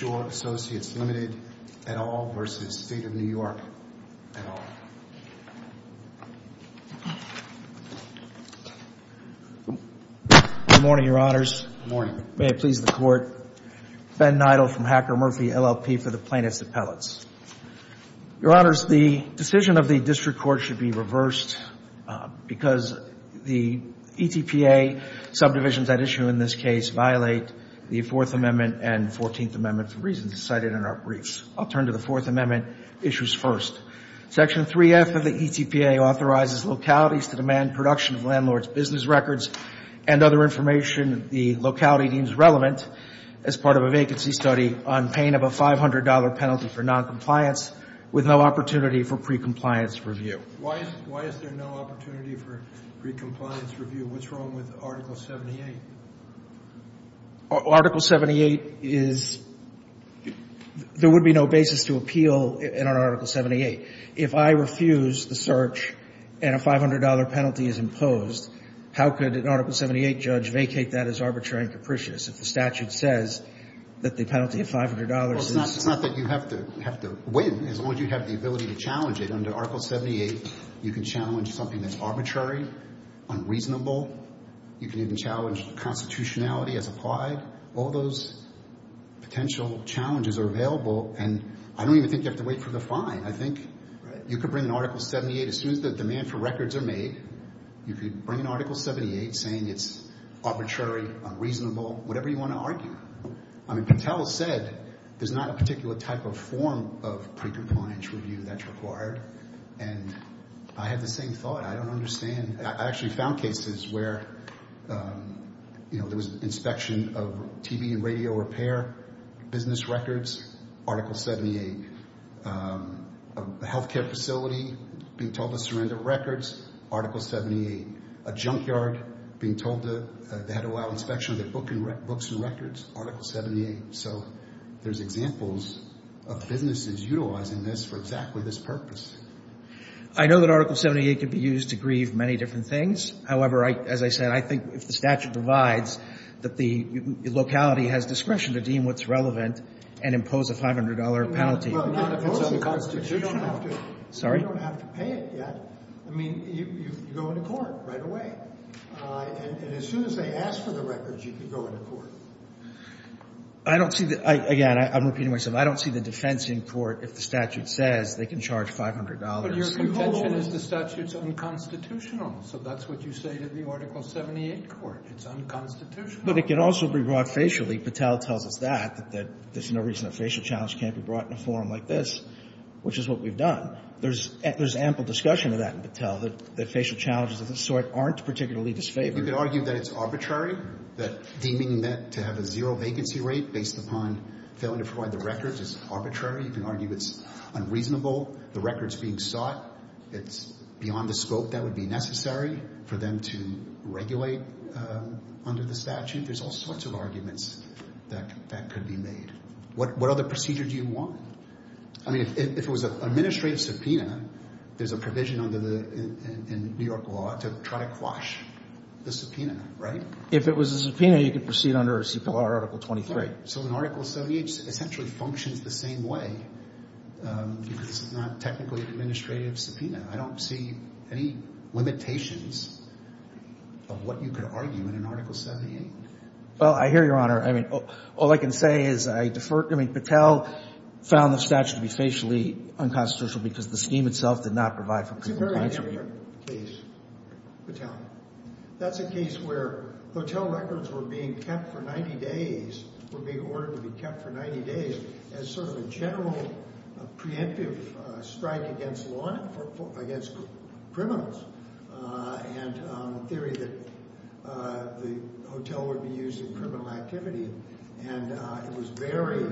Good morning, your honors. May it please the court. Ben Neidl from Hacker Murphy LLP for the plaintiffs' appellates. Your honors, the decision of the district court should be reversed because the ETPA subdivisions at issue in this case violate the Fourth Amendment and Fourteenth Amendment v. State of New York. I'll turn to the Fourth Amendment issues first. Section 3F of the ETPA authorizes localities to demand production of landlords' business records and other information the locality deems relevant as part of a vacancy study on paying of a $500 penalty for noncompliance with no opportunity for pre-compliance review. Why is there no opportunity for pre-compliance review? What's wrong with Article 78? Article 78 is, there would be no basis to appeal in Article 78. If I refuse the search and a $500 penalty is imposed, how could an Article 78 judge vacate that as arbitrary and capricious if the statute says that the penalty of $500 is It's not that you have to win, as long as you have the ability to challenge it. Under Article 78, you can challenge something that's arbitrary, unreasonable, you can even challenge constitutionality as applied. All those potential challenges are available and I don't even think you have to wait for the fine. I think you could bring an Article 78 as soon as the demand for records are made. You could bring an Article 78 saying it's arbitrary, unreasonable, whatever you want to argue. I mean, Patel said there's not a particular type of form of pre-compliance review that's required and I have the same thought. I don't understand. I actually found cases where there was inspection of TV and radio repair, business records, Article 78. A healthcare facility being told to surrender records, Article 78. A junkyard being told they had to allow inspection of their books and records, Article 78. So there's examples of businesses utilizing this for exactly this purpose. I know that Article 78 could be used to grieve many different things. However, as I said, I think if the statute provides that the locality has discretion to deem what's relevant and impose a $500 penalty. Well, not if it's unconstitutional. Sorry? You don't have to pay it yet. I mean, you go into court right away. And as soon as they ask for the records, you can go into court. I don't see that. Again, I'm repeating myself. I don't see the defense in court if the statute says they can charge $500. But your contention is the statute's unconstitutional. So that's what you say to the Article 78 court. It's unconstitutional. But it can also be brought facially. Patel tells us that, that there's no reason a facial challenge can't be brought in a form like this, which is what we've done. There's ample discussion of that in Patel, that facial challenges of this sort aren't particularly disfavored. You could argue that it's arbitrary, that deeming that to have a zero vacancy rate based upon failing to provide the records is arbitrary. You can argue it's unreasonable. The record's being sought. It's beyond the scope that would be necessary for them to regulate under the statute. There's all sorts of arguments that could be made. What other procedure do you want? I mean, if it was an administrative subpoena, there's a provision under the New York law to try to quash the subpoena, right? If it was a subpoena, you could proceed under a CPLR Article 23. Right. So an Article 78 essentially functions the same way because it's not technically an administrative subpoena. I don't see any limitations of what you could argue in an Article 78. Well, I hear you, Your Honor. I mean, all I can say is I defer. I mean, Patel found the statute to be facially unconstitutional because the scheme itself did not provide for criminal clients. It's a very different case, Patel. That's a case where hotel records were being kept for 90 days, were being ordered to be kept for 90 days, as sort of a general preemptive strike against law enforcement, against criminals, and the theory that the hotel would be used in criminal activity. And it was very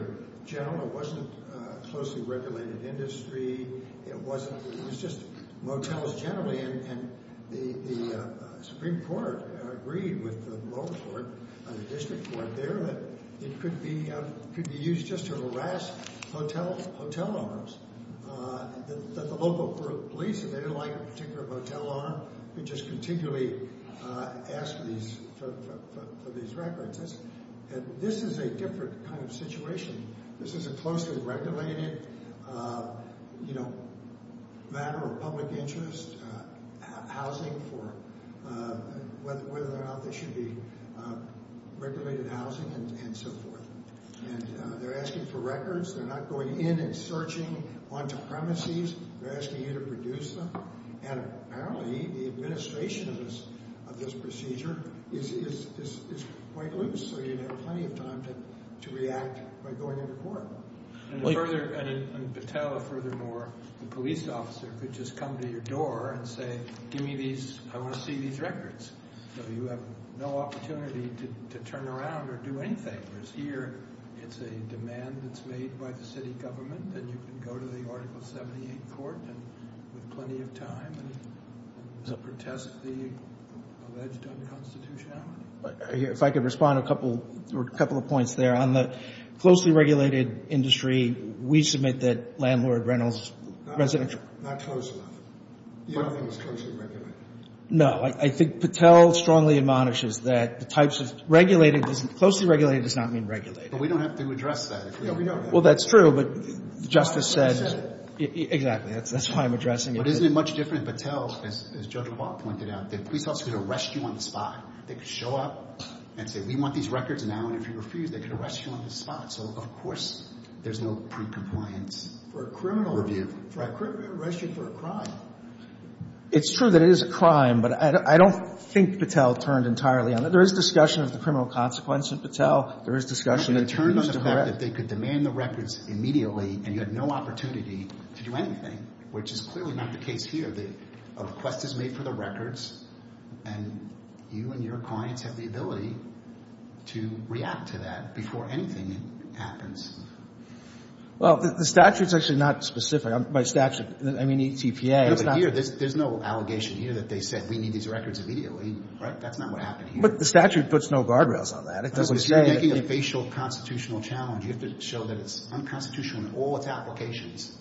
general. It wasn't a closely regulated industry. It was just motels generally. And the Supreme Court agreed with the local court and the district court there that it could be used just to harass hotel owners. That the local police, if they didn't like a particular motel owner, could just continually ask for these records. And this is a different kind of situation. This is a closely regulated matter of public interest, housing for whether or not there should be regulated housing and so forth. And they're asking for records. They're not going in and searching onto premises. They're asking you to produce them. And apparently the administration of this procedure is quite loose. So you'd have plenty of time to react by going into court. And further, Patel, furthermore, the police officer could just come to your door and say, give me these, I want to see these records. So you have no opportunity to turn around or do anything. Here, it's a demand that's made by the city government. And you can go to the Article 78 court with plenty of time and protest the alleged unconstitutionality. If I could respond to a couple of points there. On the closely regulated industry, we submit that landlord rentals residential. Not close enough. You don't think it's closely regulated? No. I think Patel strongly admonishes that the types of regulated doesn't, closely regulated does not mean regulated. But we don't have to address that. Well, that's true. But Justice said. That's why I'm addressing it. But isn't it much different in Patel, as Judge Law pointed out, the police officer could arrest you on the spot. They could show up and say, we want these records now. And if you refuse, they could arrest you on the spot. So, of course, there's no precompliance. For a criminal review. Right. Arrest you for a crime. It's true that it is a crime. But I don't think Patel turned entirely on it. There is discussion of the criminal consequence in Patel. There is discussion. They could turn on the fact that they could demand the records immediately. And you had no opportunity to do anything. Which is clearly not the case here. A request is made for the records. And you and your clients have the ability to react to that before anything happens. Well, the statute is actually not specific. I'm sorry. My statute. I mean, eTPA. There's no allegation here that they said we need these records immediately. Right? That's not what happened here. But the statute puts no guardrails on that. It doesn't say. You're making a facial constitutional challenge. You have to show that it's unconstitutional in all its applications.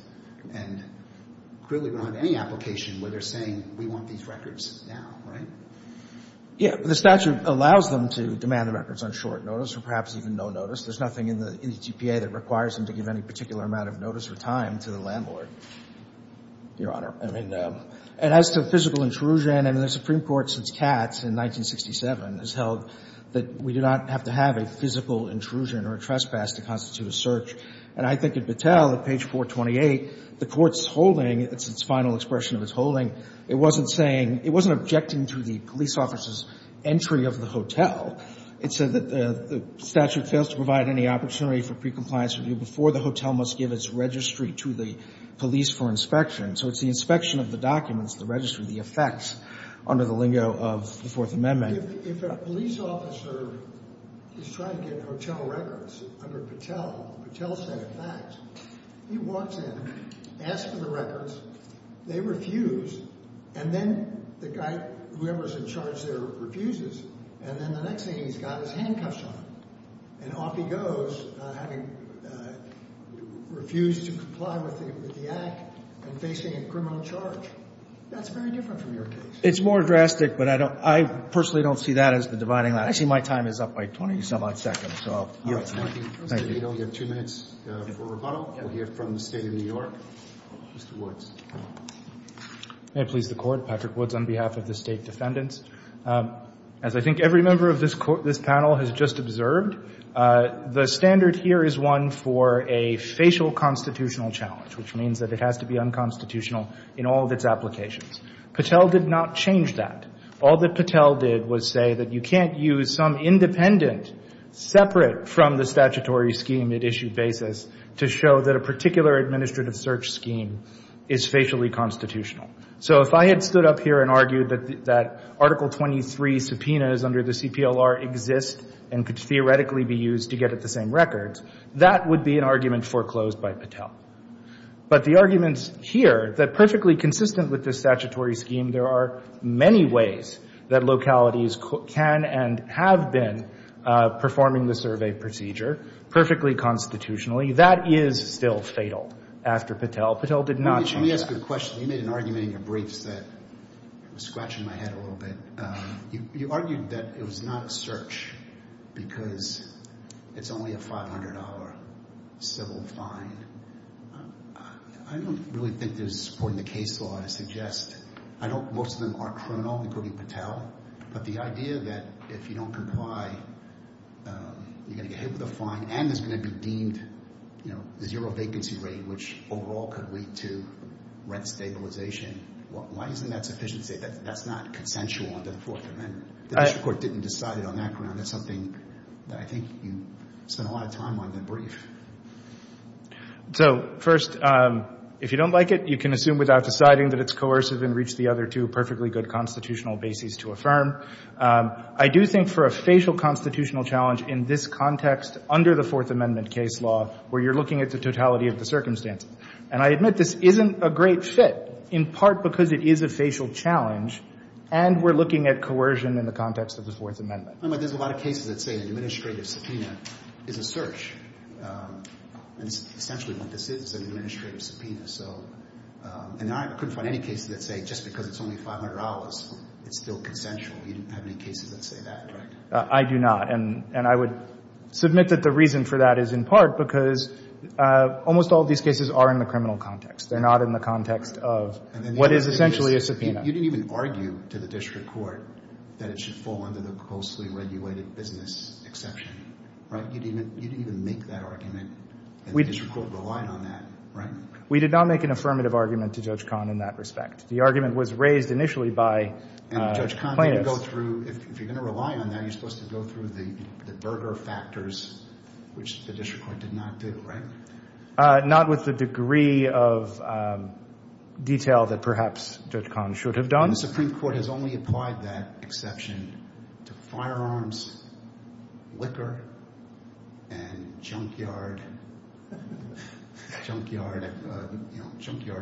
And clearly we don't have any application where they're saying we want these records now. Right? Yeah. The statute allows them to demand the records on short notice or perhaps even no notice. There's nothing in the eTPA that requires them to give any particular amount of notice or time to the landlord, Your Honor. And as to physical intrusion, I mean, the Supreme Court since Katz in 1967 has held that we do not have to have a physical intrusion or a trespass to constitute a search. And I think at Battelle, at page 428, the Court's holding, it's its final expression of its holding, it wasn't saying, it wasn't objecting to the police officer's entry of the hotel. It said that the statute fails to provide any opportunity for pre-compliance review before the hotel must give its registry to the police for inspection. So it's the inspection of the documents, the registry, the effects under the lingo of the Fourth Amendment. If a police officer is trying to get hotel records under Battelle, Battelle said in fact, he walks in, asks for the records, they refuse, and then the guy, whoever's in charge there, refuses. And then the next thing he's got is handcuffs on him. And off he goes, having refused to comply with the act and facing a criminal charge. That's very different from your case. It's more drastic, but I don't, I personally don't see that as the dividing line. Actually, my time is up by 20-some-odd seconds, so. Thank you. We have two minutes for rebuttal. We'll hear from the State of New York. Mr. Woods. May it please the Court. Thank you, Your Honor. Patrick Woods on behalf of the State Defendants. As I think every member of this panel has just observed, the standard here is one for a facial constitutional challenge, which means that it has to be unconstitutional in all of its applications. Battelle did not change that. All that Battelle did was say that you can't use some independent, separate from the statutory scheme at issue basis to show that a particular administrative search scheme is facially constitutional. So if I had stood up here and argued that Article 23 subpoenas under the CPLR exist and could theoretically be used to get at the same records, that would be an argument foreclosed by Battelle. But the arguments here, that perfectly consistent with the statutory scheme, there are many ways that localities can and have been performing the survey procedure perfectly constitutionally, that is still fatal after Battelle. Battelle did not change that. There's a question. You made an argument in your briefs that was scratching my head a little bit. You argued that it was not a search because it's only a $500 civil fine. I don't really think there's a support in the case law to suggest. I don't... most of them are criminal, including Battelle. But the idea that if you don't comply, you're going to get hit with a fine and it's going to be deemed a zero vacancy rate, which overall could lead to rent stabilization. Why isn't that sufficient to say that that's not consensual under the Fourth Amendment? The district court didn't decide it on that ground. That's something that I think you spent a lot of time on in the brief. So first, if you don't like it, you can assume without deciding that it's coercive and reach the other two perfectly good constitutional bases to affirm. I do think for a facial constitutional challenge in this context, under the Fourth Amendment case law, where you're looking at the totality of the circumstances. And I admit this isn't a great fit, in part because it is a facial challenge and we're looking at coercion in the context of the Fourth Amendment. There's a lot of cases that say an administrative subpoena is a search. Essentially what this is is an administrative subpoena. And I couldn't find any cases that say just because it's only $500, it's still consensual. You didn't have any cases that say that, correct? I do not. And I would submit that the reason for that is in part because almost all of these cases are in the criminal context. They're not in the context of what is essentially a subpoena. You didn't even argue to the district court that it should fall under the coarsely regulated business exception, right? You didn't even make that argument, and the district court relied on that, right? We did not make an affirmative argument to Judge Kahn in that respect. The argument was raised initially by plaintiffs. And Judge Kahn, if you're going to rely on that, you're supposed to go through the Berger factors, which the district court did not do, right? Not with the degree of detail that perhaps Judge Kahn should have done. The Supreme Court has only applied that exception to firearms, liquor, and junkyard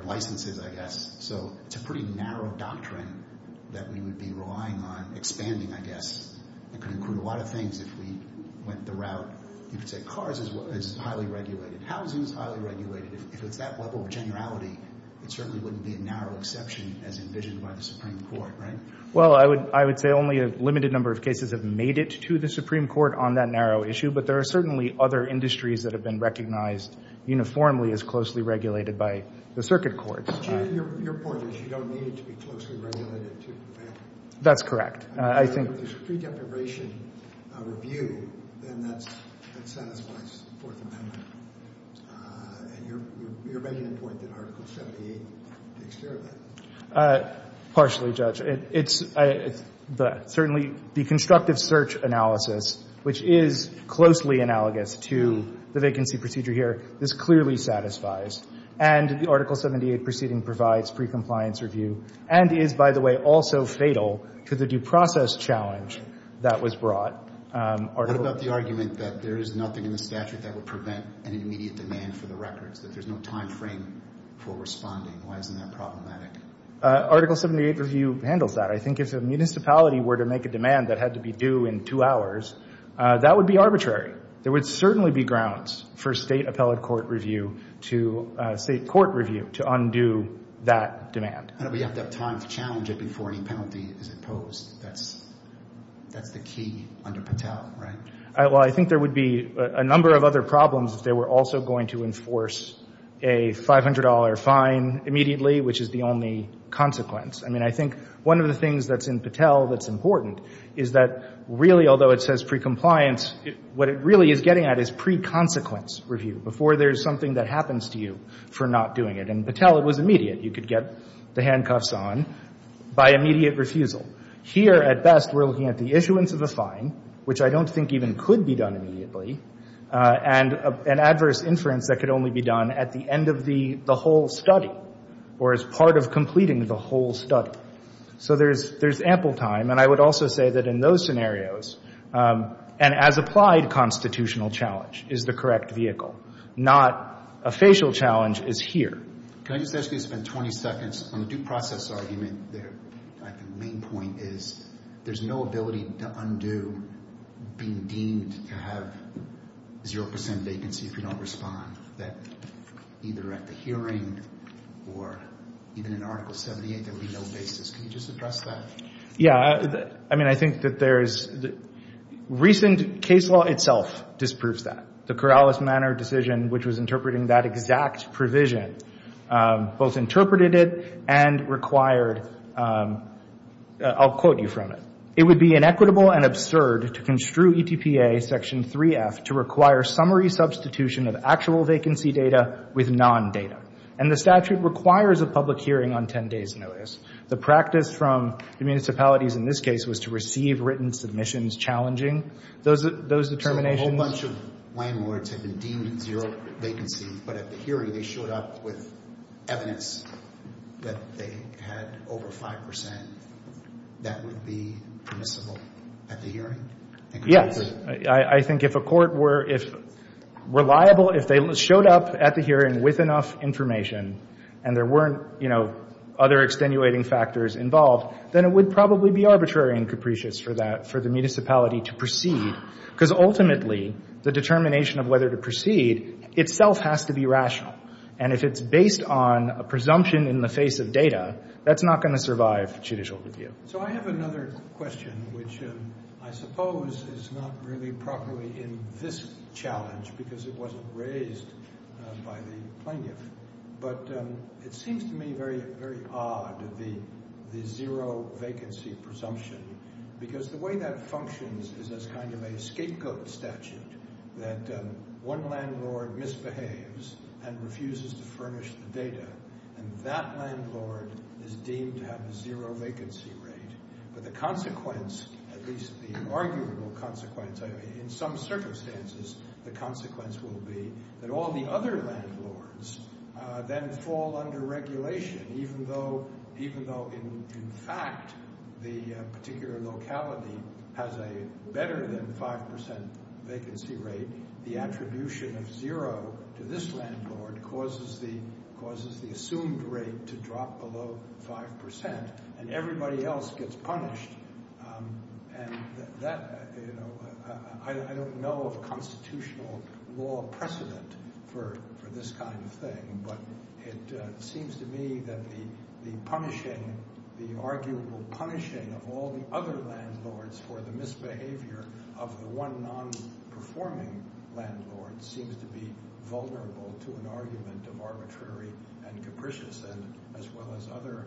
licenses, I guess. So it's a pretty narrow doctrine that we would be relying on expanding, I guess. It could include a lot of things if we went the route. You could say cars is highly regulated. Housing is highly regulated. If it's that level of generality, it certainly wouldn't be a narrow exception as envisioned by the Supreme Court, right? Well, I would say only a limited number of cases have made it to the Supreme Court on that narrow issue, but there are certainly other industries that have been recognized uniformly as closely regulated by the circuit courts. Your point is you don't need it to be closely regulated to the bank? That's correct. If there's a pre-deprivation review, then that satisfies the Fourth Amendment. And you're making a point that Article 78 takes care of that. Partially, Judge. Certainly the constructive search analysis, which is closely analogous to the vacancy procedure here, this clearly satisfies. And the Article 78 proceeding provides pre-compliance review and is, by the way, also fatal to the due process challenge that was brought. What about the argument that there is nothing in the statute that would prevent an immediate demand for the records, that there's no time frame for responding? Why isn't that problematic? Article 78 review handles that. I think if a municipality were to make a demand that had to be due in two hours, that would be arbitrary. There would certainly be grounds for state appellate court review to undo that demand. We have to have time to challenge it before any penalty is imposed. That's the key under Patel, right? Well, I think there would be a number of other problems if they were also going to enforce a $500 fine immediately, which is the only consequence. I mean, I think one of the things that's in Patel that's important is that really, although it says pre-compliance, what it really is getting at is pre-consequence review, before there's something that happens to you for not doing it. In Patel, it was immediate. You could get the handcuffs on by immediate refusal. Here, at best, we're looking at the issuance of a fine, which I don't think even could be done immediately, and adverse inference that could only be done at the end of the whole study or as part of completing the whole study. So there's ample time. And I would also say that in those scenarios, an as-applied constitutional challenge is the correct vehicle, not a facial challenge is here. Can I just ask you to spend 20 seconds on the due process argument there? I think the main point is there's no ability to undo being deemed to have 0 percent vacancy if you don't respond, that either at the hearing or even in Article 78, there would be no basis. Can you just address that? Yeah. I mean, I think that there's the recent case law itself disproves that. The Corrales-Manner decision, which was interpreting that exact provision, both interpreted it and required, I'll quote you from it. It would be inequitable and absurd to construe ETPA Section 3F to require summary substitution of actual vacancy data with non-data. And the statute requires a public hearing on 10 days' notice. The practice from the municipalities in this case was to receive written submissions challenging those determinations. So a whole bunch of landlords had been deemed 0 vacancy, but at the hearing they showed up with evidence that they had over 5 percent. That would be permissible at the hearing? Yes. I think if a court were reliable, if they showed up at the hearing with enough information and there weren't, you know, other extenuating factors involved, then it would probably be arbitrary and capricious for the municipality to proceed, because ultimately the determination of whether to proceed itself has to be rational. And if it's based on a presumption in the face of data, that's not going to survive judicial review. So I have another question, which I suppose is not really properly in this challenge because it wasn't raised by the plaintiff. But it seems to me very odd, the 0 vacancy presumption, because the way that functions is as kind of a scapegoat statute, that one landlord misbehaves and refuses to furnish the data, and that landlord is deemed to have a 0 vacancy rate. But the consequence, at least the arguable consequence, in some circumstances the consequence will be that all the other landlords then fall under regulation, even though in fact the particular locality has a better than 5% vacancy rate. The attribution of 0 to this landlord causes the assumed rate to drop below 5%, and everybody else gets punished. And that, you know, I don't know of a constitutional law precedent for this kind of thing, but it seems to me that the punishing, the arguable punishing of all the other landlords for the misbehavior of the one non-performing landlord seems to be vulnerable to an argument of arbitrary and capricious, as well as other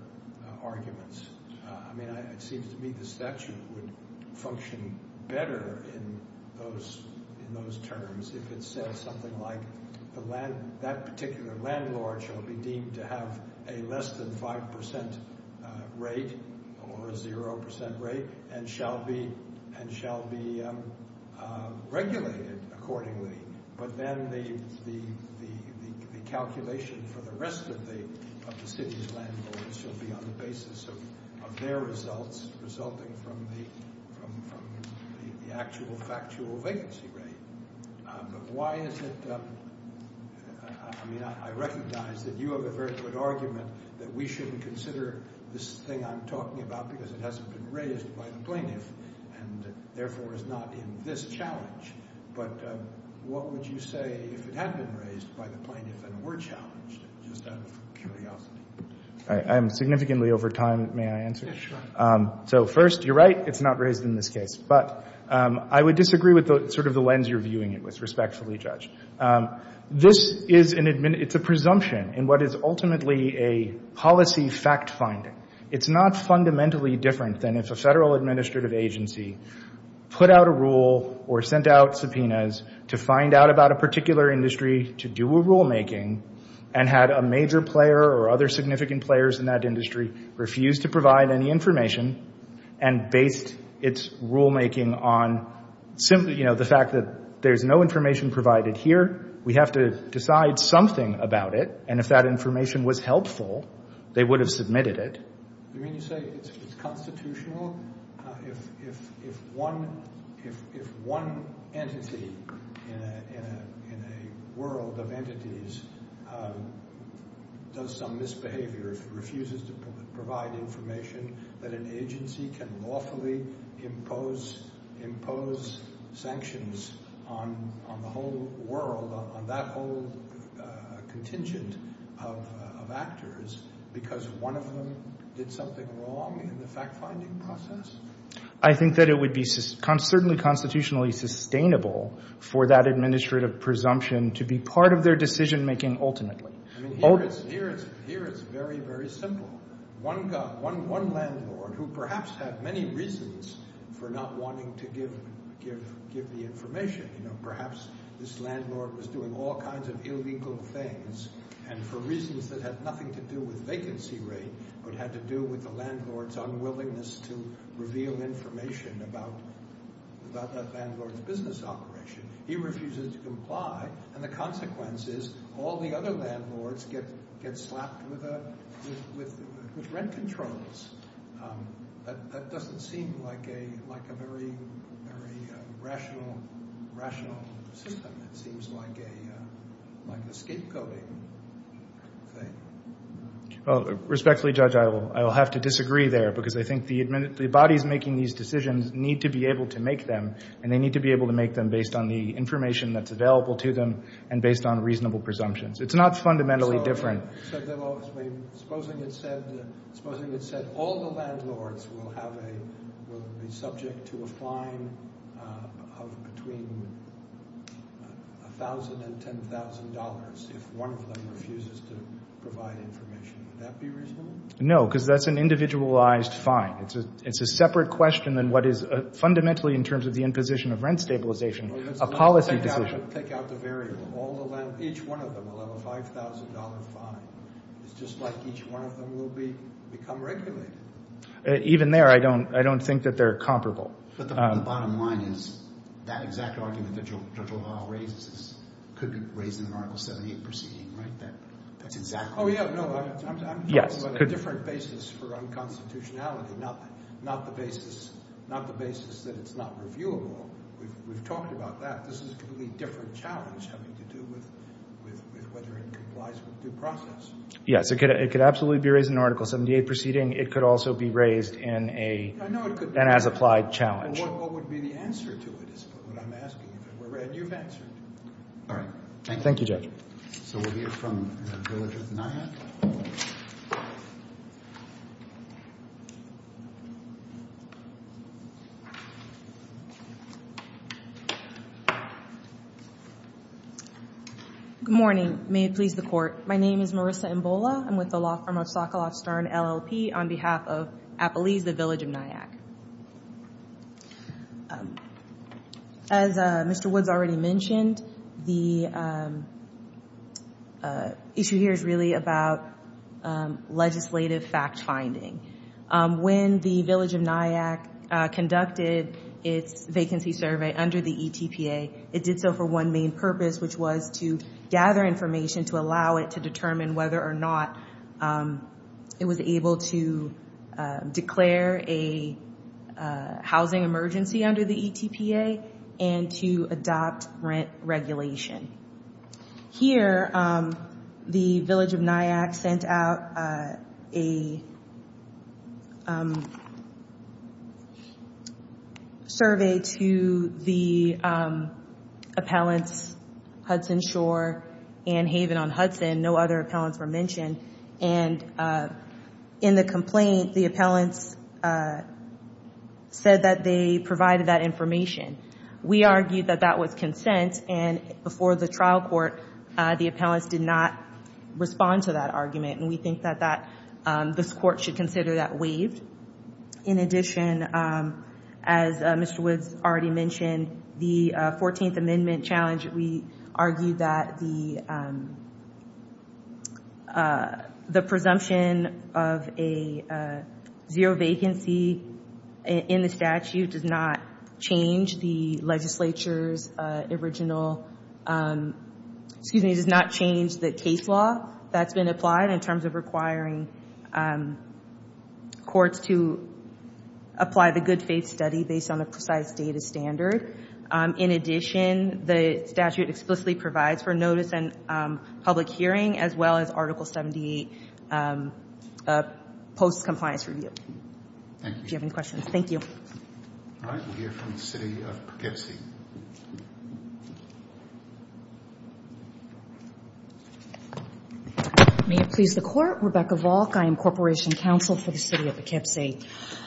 arguments. I mean, it seems to me the statute would function better in those terms if it said something like that particular landlord shall be deemed to have a less than 5% rate, or a 0% rate, and shall be regulated accordingly. But then the calculation for the rest of the city's landlords shall be on the basis of their results resulting from the actual factual vacancy rate. But why is it, I mean, I recognize that you have a very good argument that we shouldn't consider this thing I'm talking about because it hasn't been raised by the plaintiff, and therefore is not in this challenge. But what would you say if it had been raised by the plaintiff and were challenged, just out of curiosity? I am significantly over time, may I answer? Sure. So first, you're right, it's not raised in this case. But I would disagree with sort of the lens you're viewing it with, respectfully, Judge. This is an, it's a presumption in what is ultimately a policy fact-finding. It's not fundamentally different than if a federal administrative agency put out a rule or sent out subpoenas to find out about a particular industry to do a rulemaking and had a major player or other significant players in that industry refuse to provide any information and based its rulemaking on simply, you know, the fact that there's no information provided here, we have to decide something about it, and if that information was helpful, they would have submitted it. You mean to say it's constitutional? If one entity in a world of entities does some misbehavior, if it refuses to provide information that an agency can lawfully impose sanctions on the whole world, on that whole contingent of actors because one of them did something wrong in the fact-finding process? I think that it would be certainly constitutionally sustainable for that administrative presumption to be part of their decision-making ultimately. Here it's very, very simple. One landlord who perhaps had many reasons for not wanting to give the information, you know, perhaps this landlord was doing all kinds of illegal things and for reasons that had nothing to do with vacancy rate but had to do with the landlord's unwillingness to reveal information about that landlord's business operation, he refuses to comply, and the consequence is all the other landlords get slapped with rent controls. That doesn't seem like a very rational system. It seems like a scapegoating thing. Respectfully, Judge, I will have to disagree there because I think the bodies making these decisions need to be able to make them, and they need to be able to make them based on the information that's available to them and based on reasonable presumptions. It's not fundamentally different. Supposing it said all the landlords will be subject to a fine of between $1,000 and $10,000 if one of them refuses to provide information. Would that be reasonable? No, because that's an individualized fine. It's a separate question than what is fundamentally in terms of the imposition of rent stabilization, a policy decision. I have to pick out the variable. Each one of them will have a $5,000 fine. It's just like each one of them will become regulated. Even there, I don't think that they're comparable. But the bottom line is that exact argument that Judge O'Hara raises could be raised in the Article 78 proceeding, right? Oh, yeah, no. I'm talking about a different basis for unconstitutionality, not the basis that it's not reviewable. We've talked about that. This is a completely different challenge having to do with whether it complies with due process. Yes, it could absolutely be raised in the Article 78 proceeding. It could also be raised in an as-applied challenge. What would be the answer to it is what I'm asking, and you've answered. All right. Thank you, Judge. So we'll hear from the village of Nyack. Good morning. May it please the Court. My name is Marissa Mbola. I'm with the law firm of Sokoloff Stern, LLP, on behalf of Appalese, the village of Nyack. As Mr. Woods already mentioned, the issue here is really about legislative fact-finding. When the village of Nyack conducted its vacancy survey under the ETPA, it did so for one main purpose, which was to gather information to allow it to determine whether or not it was able to declare a housing emergency under the ETPA and to adopt rent regulation. Here, the village of Nyack sent out a survey to the appellants Hudson Shore and Haven on Hudson. And no other appellants were mentioned. And in the complaint, the appellants said that they provided that information. We argued that that was consent, and before the trial court, the appellants did not respond to that argument. And we think that this Court should consider that waived. In addition, as Mr. Woods already mentioned, the 14th Amendment challenge, we argued that the presumption of a zero vacancy in the statute does not change the legislature's original, excuse me, does not change the case law that's been applied in terms of requiring courts to apply the good faith study based on a precise data standard. In addition, the statute explicitly provides for notice and public hearing, as well as Article 78 post-compliance review. Thank you. If you have any questions. Thank you. All right, we'll hear from the City of Poughkeepsie. May it please the Court, Rebecca Volk. I am Corporation Counsel for the City of Poughkeepsie.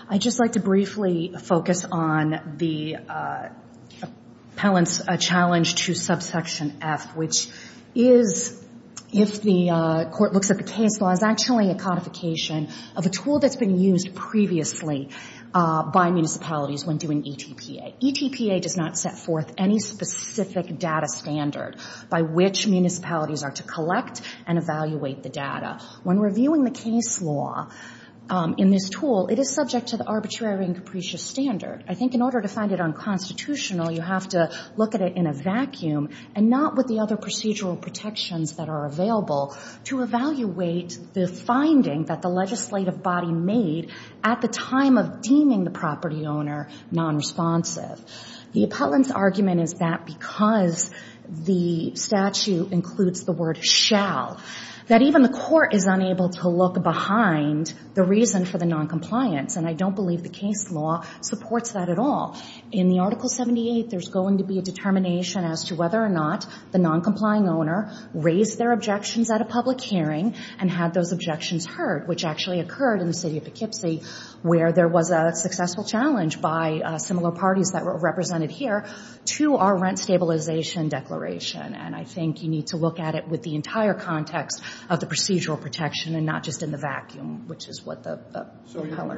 I'd just like to briefly focus on the appellant's challenge to subsection F, which is if the Court looks at the case law, of a tool that's been used previously by municipalities when doing ETPA. ETPA does not set forth any specific data standard by which municipalities are to collect and evaluate the data. When reviewing the case law in this tool, it is subject to the arbitrary and capricious standard. I think in order to find it unconstitutional, you have to look at it in a vacuum and not with the other procedural protections that are available to evaluate the finding that the legislative body made at the time of deeming the property owner non-responsive. The appellant's argument is that because the statute includes the word shall, that even the Court is unable to look behind the reason for the non-compliance, and I don't believe the case law supports that at all. In the Article 78, there's going to be a determination as to whether or not the non-complying owner raised their objections at a public hearing and had those objections heard, which actually occurred in the City of Poughkeepsie, where there was a successful challenge by similar parties that were represented here to our rent stabilization declaration. And I think you need to look at it with the entire context of the procedural protection and not just in the vacuum, which is what the appellant—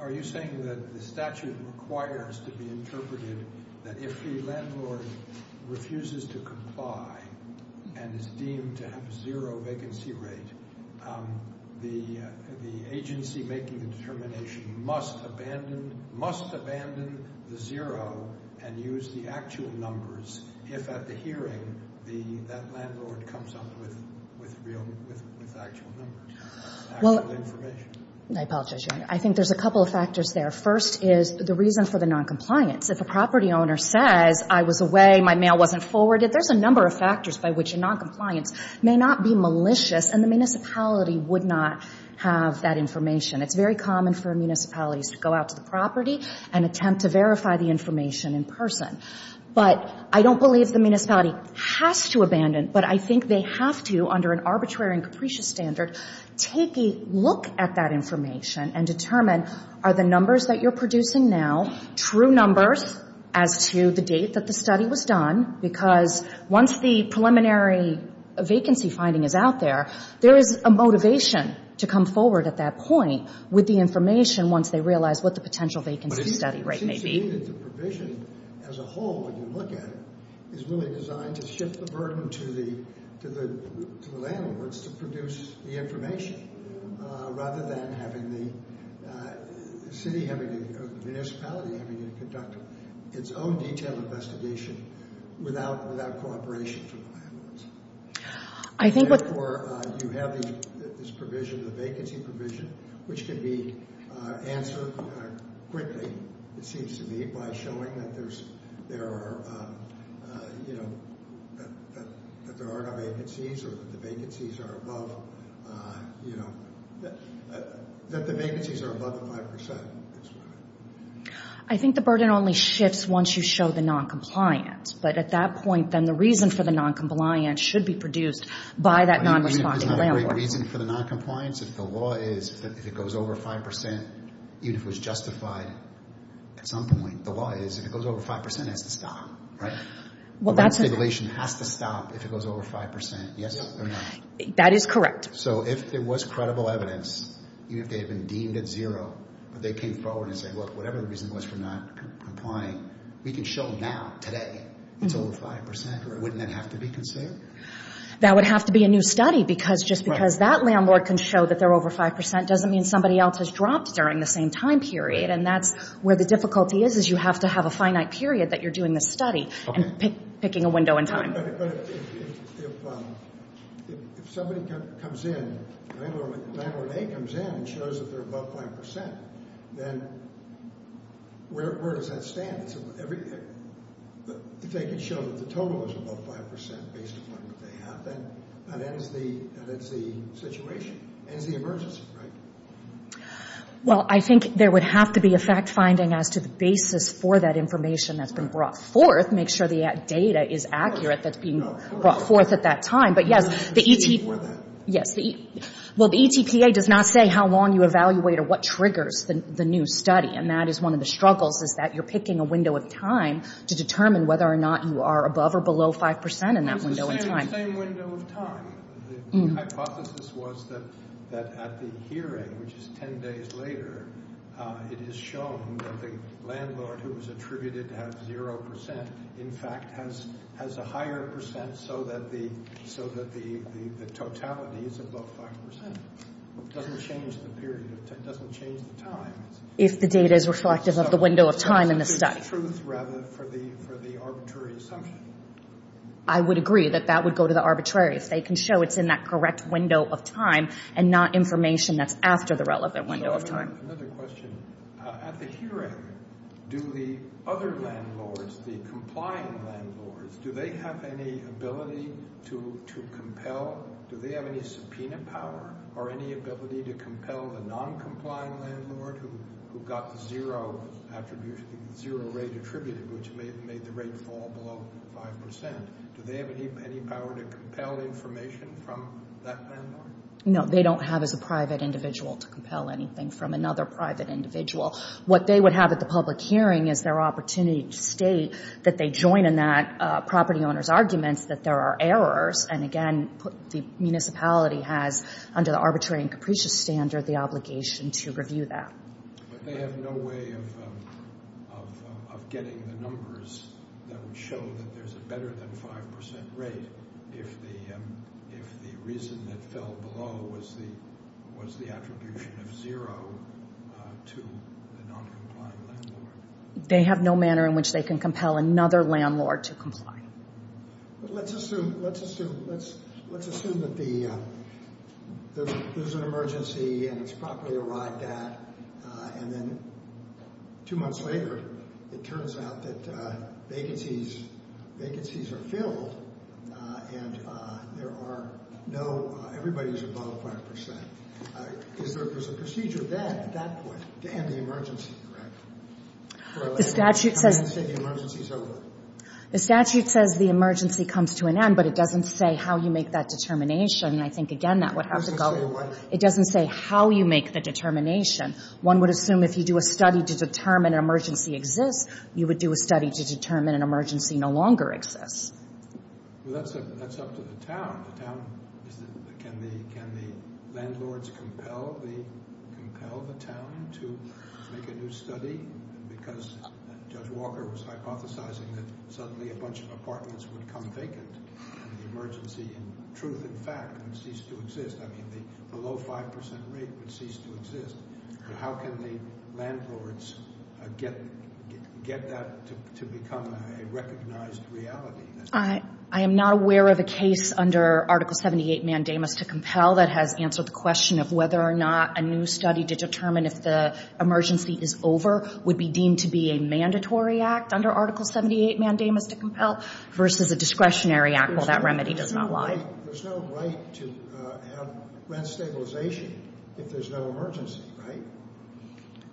Are you saying that the statute requires to be interpreted that if the landlord refuses to comply and is deemed to have a zero vacancy rate, the agency making the determination must abandon the zero and use the actual numbers if at the hearing that landlord comes up with actual numbers, actual information? I apologize, Your Honor. I think there's a couple of factors there. First is the reason for the non-compliance. If a property owner says, I was away, my mail wasn't forwarded, there's a number of factors by which a non-compliance may not be malicious, and the municipality would not have that information. It's very common for municipalities to go out to the property and attempt to verify the information in person. But I don't believe the municipality has to abandon, but I think they have to, under an arbitrary and capricious standard, take a look at that information and determine are the numbers that you're producing now true numbers as to the date that the study was done? Because once the preliminary vacancy finding is out there, there is a motivation to come forward at that point with the information once they realize what the potential vacancy study rate may be. I believe that the provision as a whole, when you look at it, is really designed to shift the burden to the landlords to produce the information, rather than the municipality having to conduct its own detailed investigation without cooperation from the landlords. Therefore, you have this provision, the vacancy provision, which can be answered quickly, it seems to me, by showing that there are no vacancies or that the vacancies are above the 5%. I think the burden only shifts once you show the non-compliance. But at that point, then, the reason for the non-compliance should be produced by that non-responding landlord. Isn't there a reason for the non-compliance? If the law is that if it goes over 5%, even if it was justified at some point, the law is if it goes over 5%, it has to stop, right? The non-stimulation has to stop if it goes over 5%, yes or no? That is correct. So if there was credible evidence, even if they had been deemed at zero, but they came forward and said, look, whatever the reason was for not complying, we can show now, today, it's over 5%. Wouldn't that have to be considered? That would have to be a new study because just because that landlord can show that they're over 5% doesn't mean somebody else has dropped during the same time period. And that's where the difficulty is, is you have to have a finite period that you're doing this study and picking a window in time. But if somebody comes in, landlord A comes in and shows that they're above 5%, then where does that stand? If they can show that the total is above 5% based upon what they have, then that ends the situation, ends the emergency, right? Well, I think there would have to be a fact-finding as to the basis for that information that's been brought forth, make sure the data is accurate that's being brought forth at that time. But, yes, the E.T.P.A. does not say how long you evaluate or what triggers the new study, and that is one of the struggles, is that you're picking a window of time to determine whether or not you are above or below 5% in that window of time. It's the same window of time. The hypothesis was that at the hearing, which is 10 days later, it is shown that the landlord who was attributed to have 0% in fact has a higher percent so that the totality is above 5%. It doesn't change the period. It doesn't change the time. If the data is reflective of the window of time in the study. It's truth, rather, for the arbitrary assumption. I would agree that that would go to the arbitrary. If they can show it's in that correct window of time and not information that's after the relevant window of time. Another question. At the hearing, do the other landlords, the complying landlords, do they have any ability to compel, do they have any subpoena power or any ability to compel the non-complying landlord who got the 0 rate attributed, which made the rate fall below 5%? Do they have any power to compel information from that landlord? No, they don't have as a private individual to compel anything from another private individual. What they would have at the public hearing is their opportunity to state that they join in that property owner's arguments that there are errors, and again, the municipality has, under the arbitrary and capricious standard, the obligation to review that. But they have no way of getting the numbers that would show that there's a better than 5% rate if the reason that fell below was the attribution of 0 to the non-complying landlord. They have no manner in which they can compel another landlord to comply. Let's assume that there's an emergency and it's properly arrived at, and then two months later it turns out that vacancies are filled and everybody's above 5%. There's a procedure then, at that point, to end the emergency, correct? The statute says the emergency comes to an end, but it doesn't say how you make that determination, and I think, again, that would have to go. It doesn't say how you make the determination. One would assume if you do a study to determine an emergency exists, you would do a study to determine an emergency no longer exists. That's up to the town. Can the landlords compel the town to make a new study? Because Judge Walker was hypothesizing that suddenly a bunch of apartments would come vacant in the emergency in truth and fact and cease to exist. I mean, the low 5% rate would cease to exist. How can the landlords get that to become a recognized reality? I am not aware of a case under Article 78 mandamus to compel that has answered the question of whether or not a new study to determine if the emergency is over would be deemed to be a mandatory act under Article 78 mandamus to compel versus a discretionary act while that remedy does not lie. There's no right to have rent stabilization if there's no emergency, right?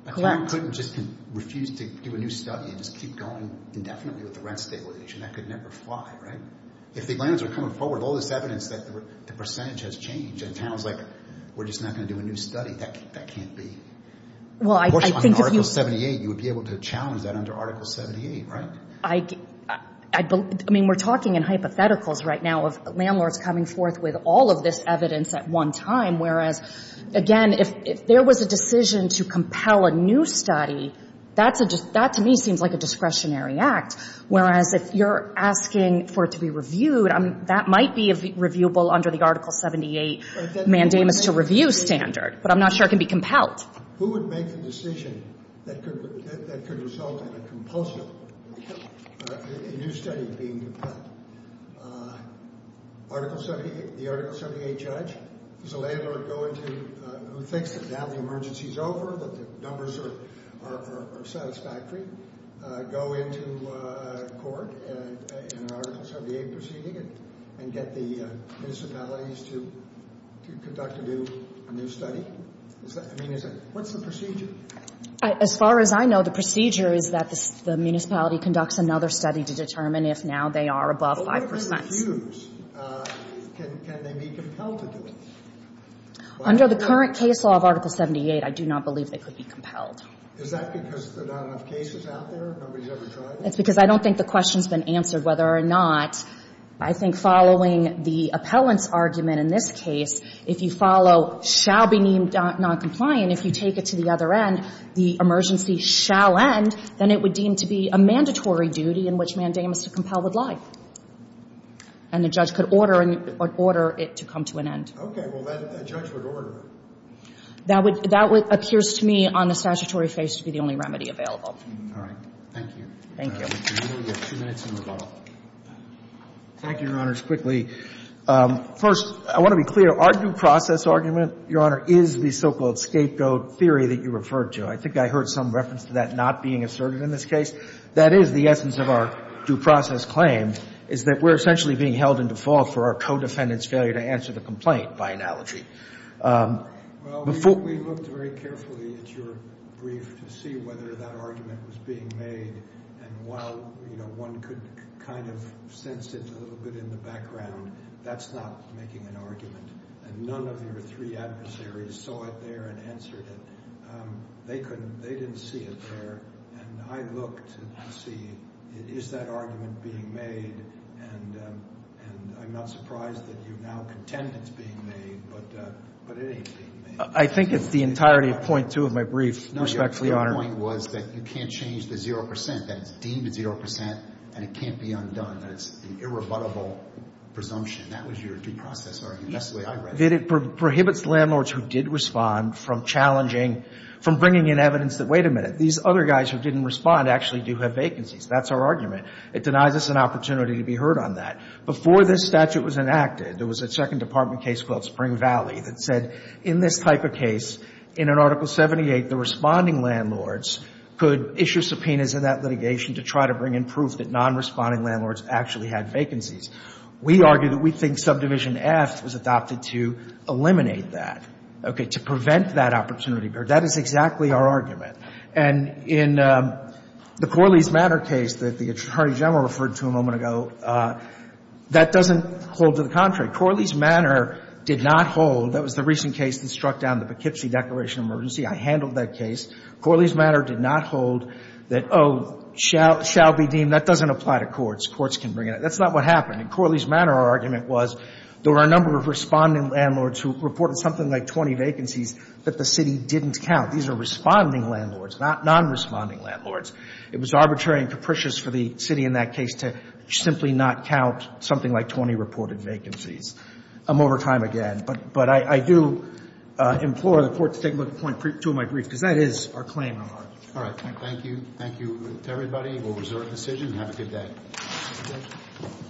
Correct. You couldn't just refuse to do a new study and just keep going indefinitely with the rent stabilization. That could never fly, right? If the landlords are coming forward with all this evidence that the percentage has changed and the town is like, we're just not going to do a new study, that can't be. Well, I think if you – Of course, under Article 78, you would be able to challenge that under Article 78, right? I mean, we're talking in hypotheticals right now of landlords coming forth with all of this evidence at one time, whereas, again, if there was a decision to compel a new study, that to me seems like a discretionary act, whereas if you're asking for it to be reviewed, that might be reviewable under the Article 78 mandamus to review standard. But I'm not sure it can be compelled. Who would make the decision that could result in a compulsive – a new study being compelled? Article 78 – the Article 78 judge? Is a landlord going to – who thinks that now the emergency is over, that the numbers are satisfactory, go into court in an Article 78 proceeding and get the municipalities to conduct a new study? I mean, what's the procedure? As far as I know, the procedure is that the municipality conducts another study to determine if now they are above 5 percent. But what if they refuse? Can they be compelled to do it? Under the current case law of Article 78, I do not believe they could be compelled. Is that because there are not enough cases out there? Nobody's ever tried it? That's because I don't think the question's been answered whether or not. I think following the appellant's argument in this case, if you follow shall be deemed noncompliant, if you take it to the other end, the emergency shall end, then it would deem to be a mandatory duty in which mandamus to compel would lie. And the judge could order it to come to an end. Okay. Well, that judge would order it. That would – that appears to me on the statutory face to be the only remedy available. All right. Thank you. Thank you. We only have two minutes in rebuttal. Thank you, Your Honors. Quickly, first, I want to be clear. Our due process argument, Your Honor, is the so-called scapegoat theory that you referred to. I think I heard some reference to that not being asserted in this case. That is the essence of our due process claim, is that we're essentially being held in default for our co-defendant's failure to answer the complaint, by analogy. Well, we looked very carefully at your brief to see whether that argument was being made. And while, you know, one could kind of sense it a little bit in the background, that's not making an argument. And none of your three adversaries saw it there and answered it. They couldn't – they didn't see it there. And I looked to see, is that argument being made? And I'm not surprised that you now contend it's being made. But it ain't being made. I think it's the entirety of point two of my brief, respectfully, Your Honor. No, your point was that you can't change the zero percent, that it's deemed a zero percent, and it can't be undone, that it's an irrebuttable presumption. That was your due process argument. That's the way I read it. It prohibits landlords who did respond from challenging – from bringing in evidence that, wait a minute, these other guys who didn't respond actually do have vacancies. That's our argument. It denies us an opportunity to be heard on that. Before this statute was enacted, there was a Second Department case called Spring Valley that said in this type of case, in an Article 78, the responding landlords could issue subpoenas in that litigation to try to bring in proof that non-responding landlords actually had vacancies. We argue that we think Subdivision F was adopted to eliminate that, okay, to prevent that opportunity. That is exactly our argument. And in the Corley's Manor case that the Attorney General referred to a moment ago, that doesn't hold to the contrary. Corley's Manor did not hold – that was the recent case that struck down the Poughkeepsie Declaration of Emergency. I handled that case. Corley's Manor did not hold that, oh, shall be deemed – that doesn't apply to courts. Courts can bring in – that's not what happened. In Corley's Manor, our argument was there were a number of responding landlords who reported something like 20 vacancies that the city didn't count. These are responding landlords, not non-responding landlords. It was arbitrary and capricious for the city in that case to simply not count something like 20 reported vacancies. I'm over time again, but I do implore the Court to take a look at point two of my brief because that is our claim in our argument. Thank you. Thank you to everybody. We'll reserve the decision. Have a good day.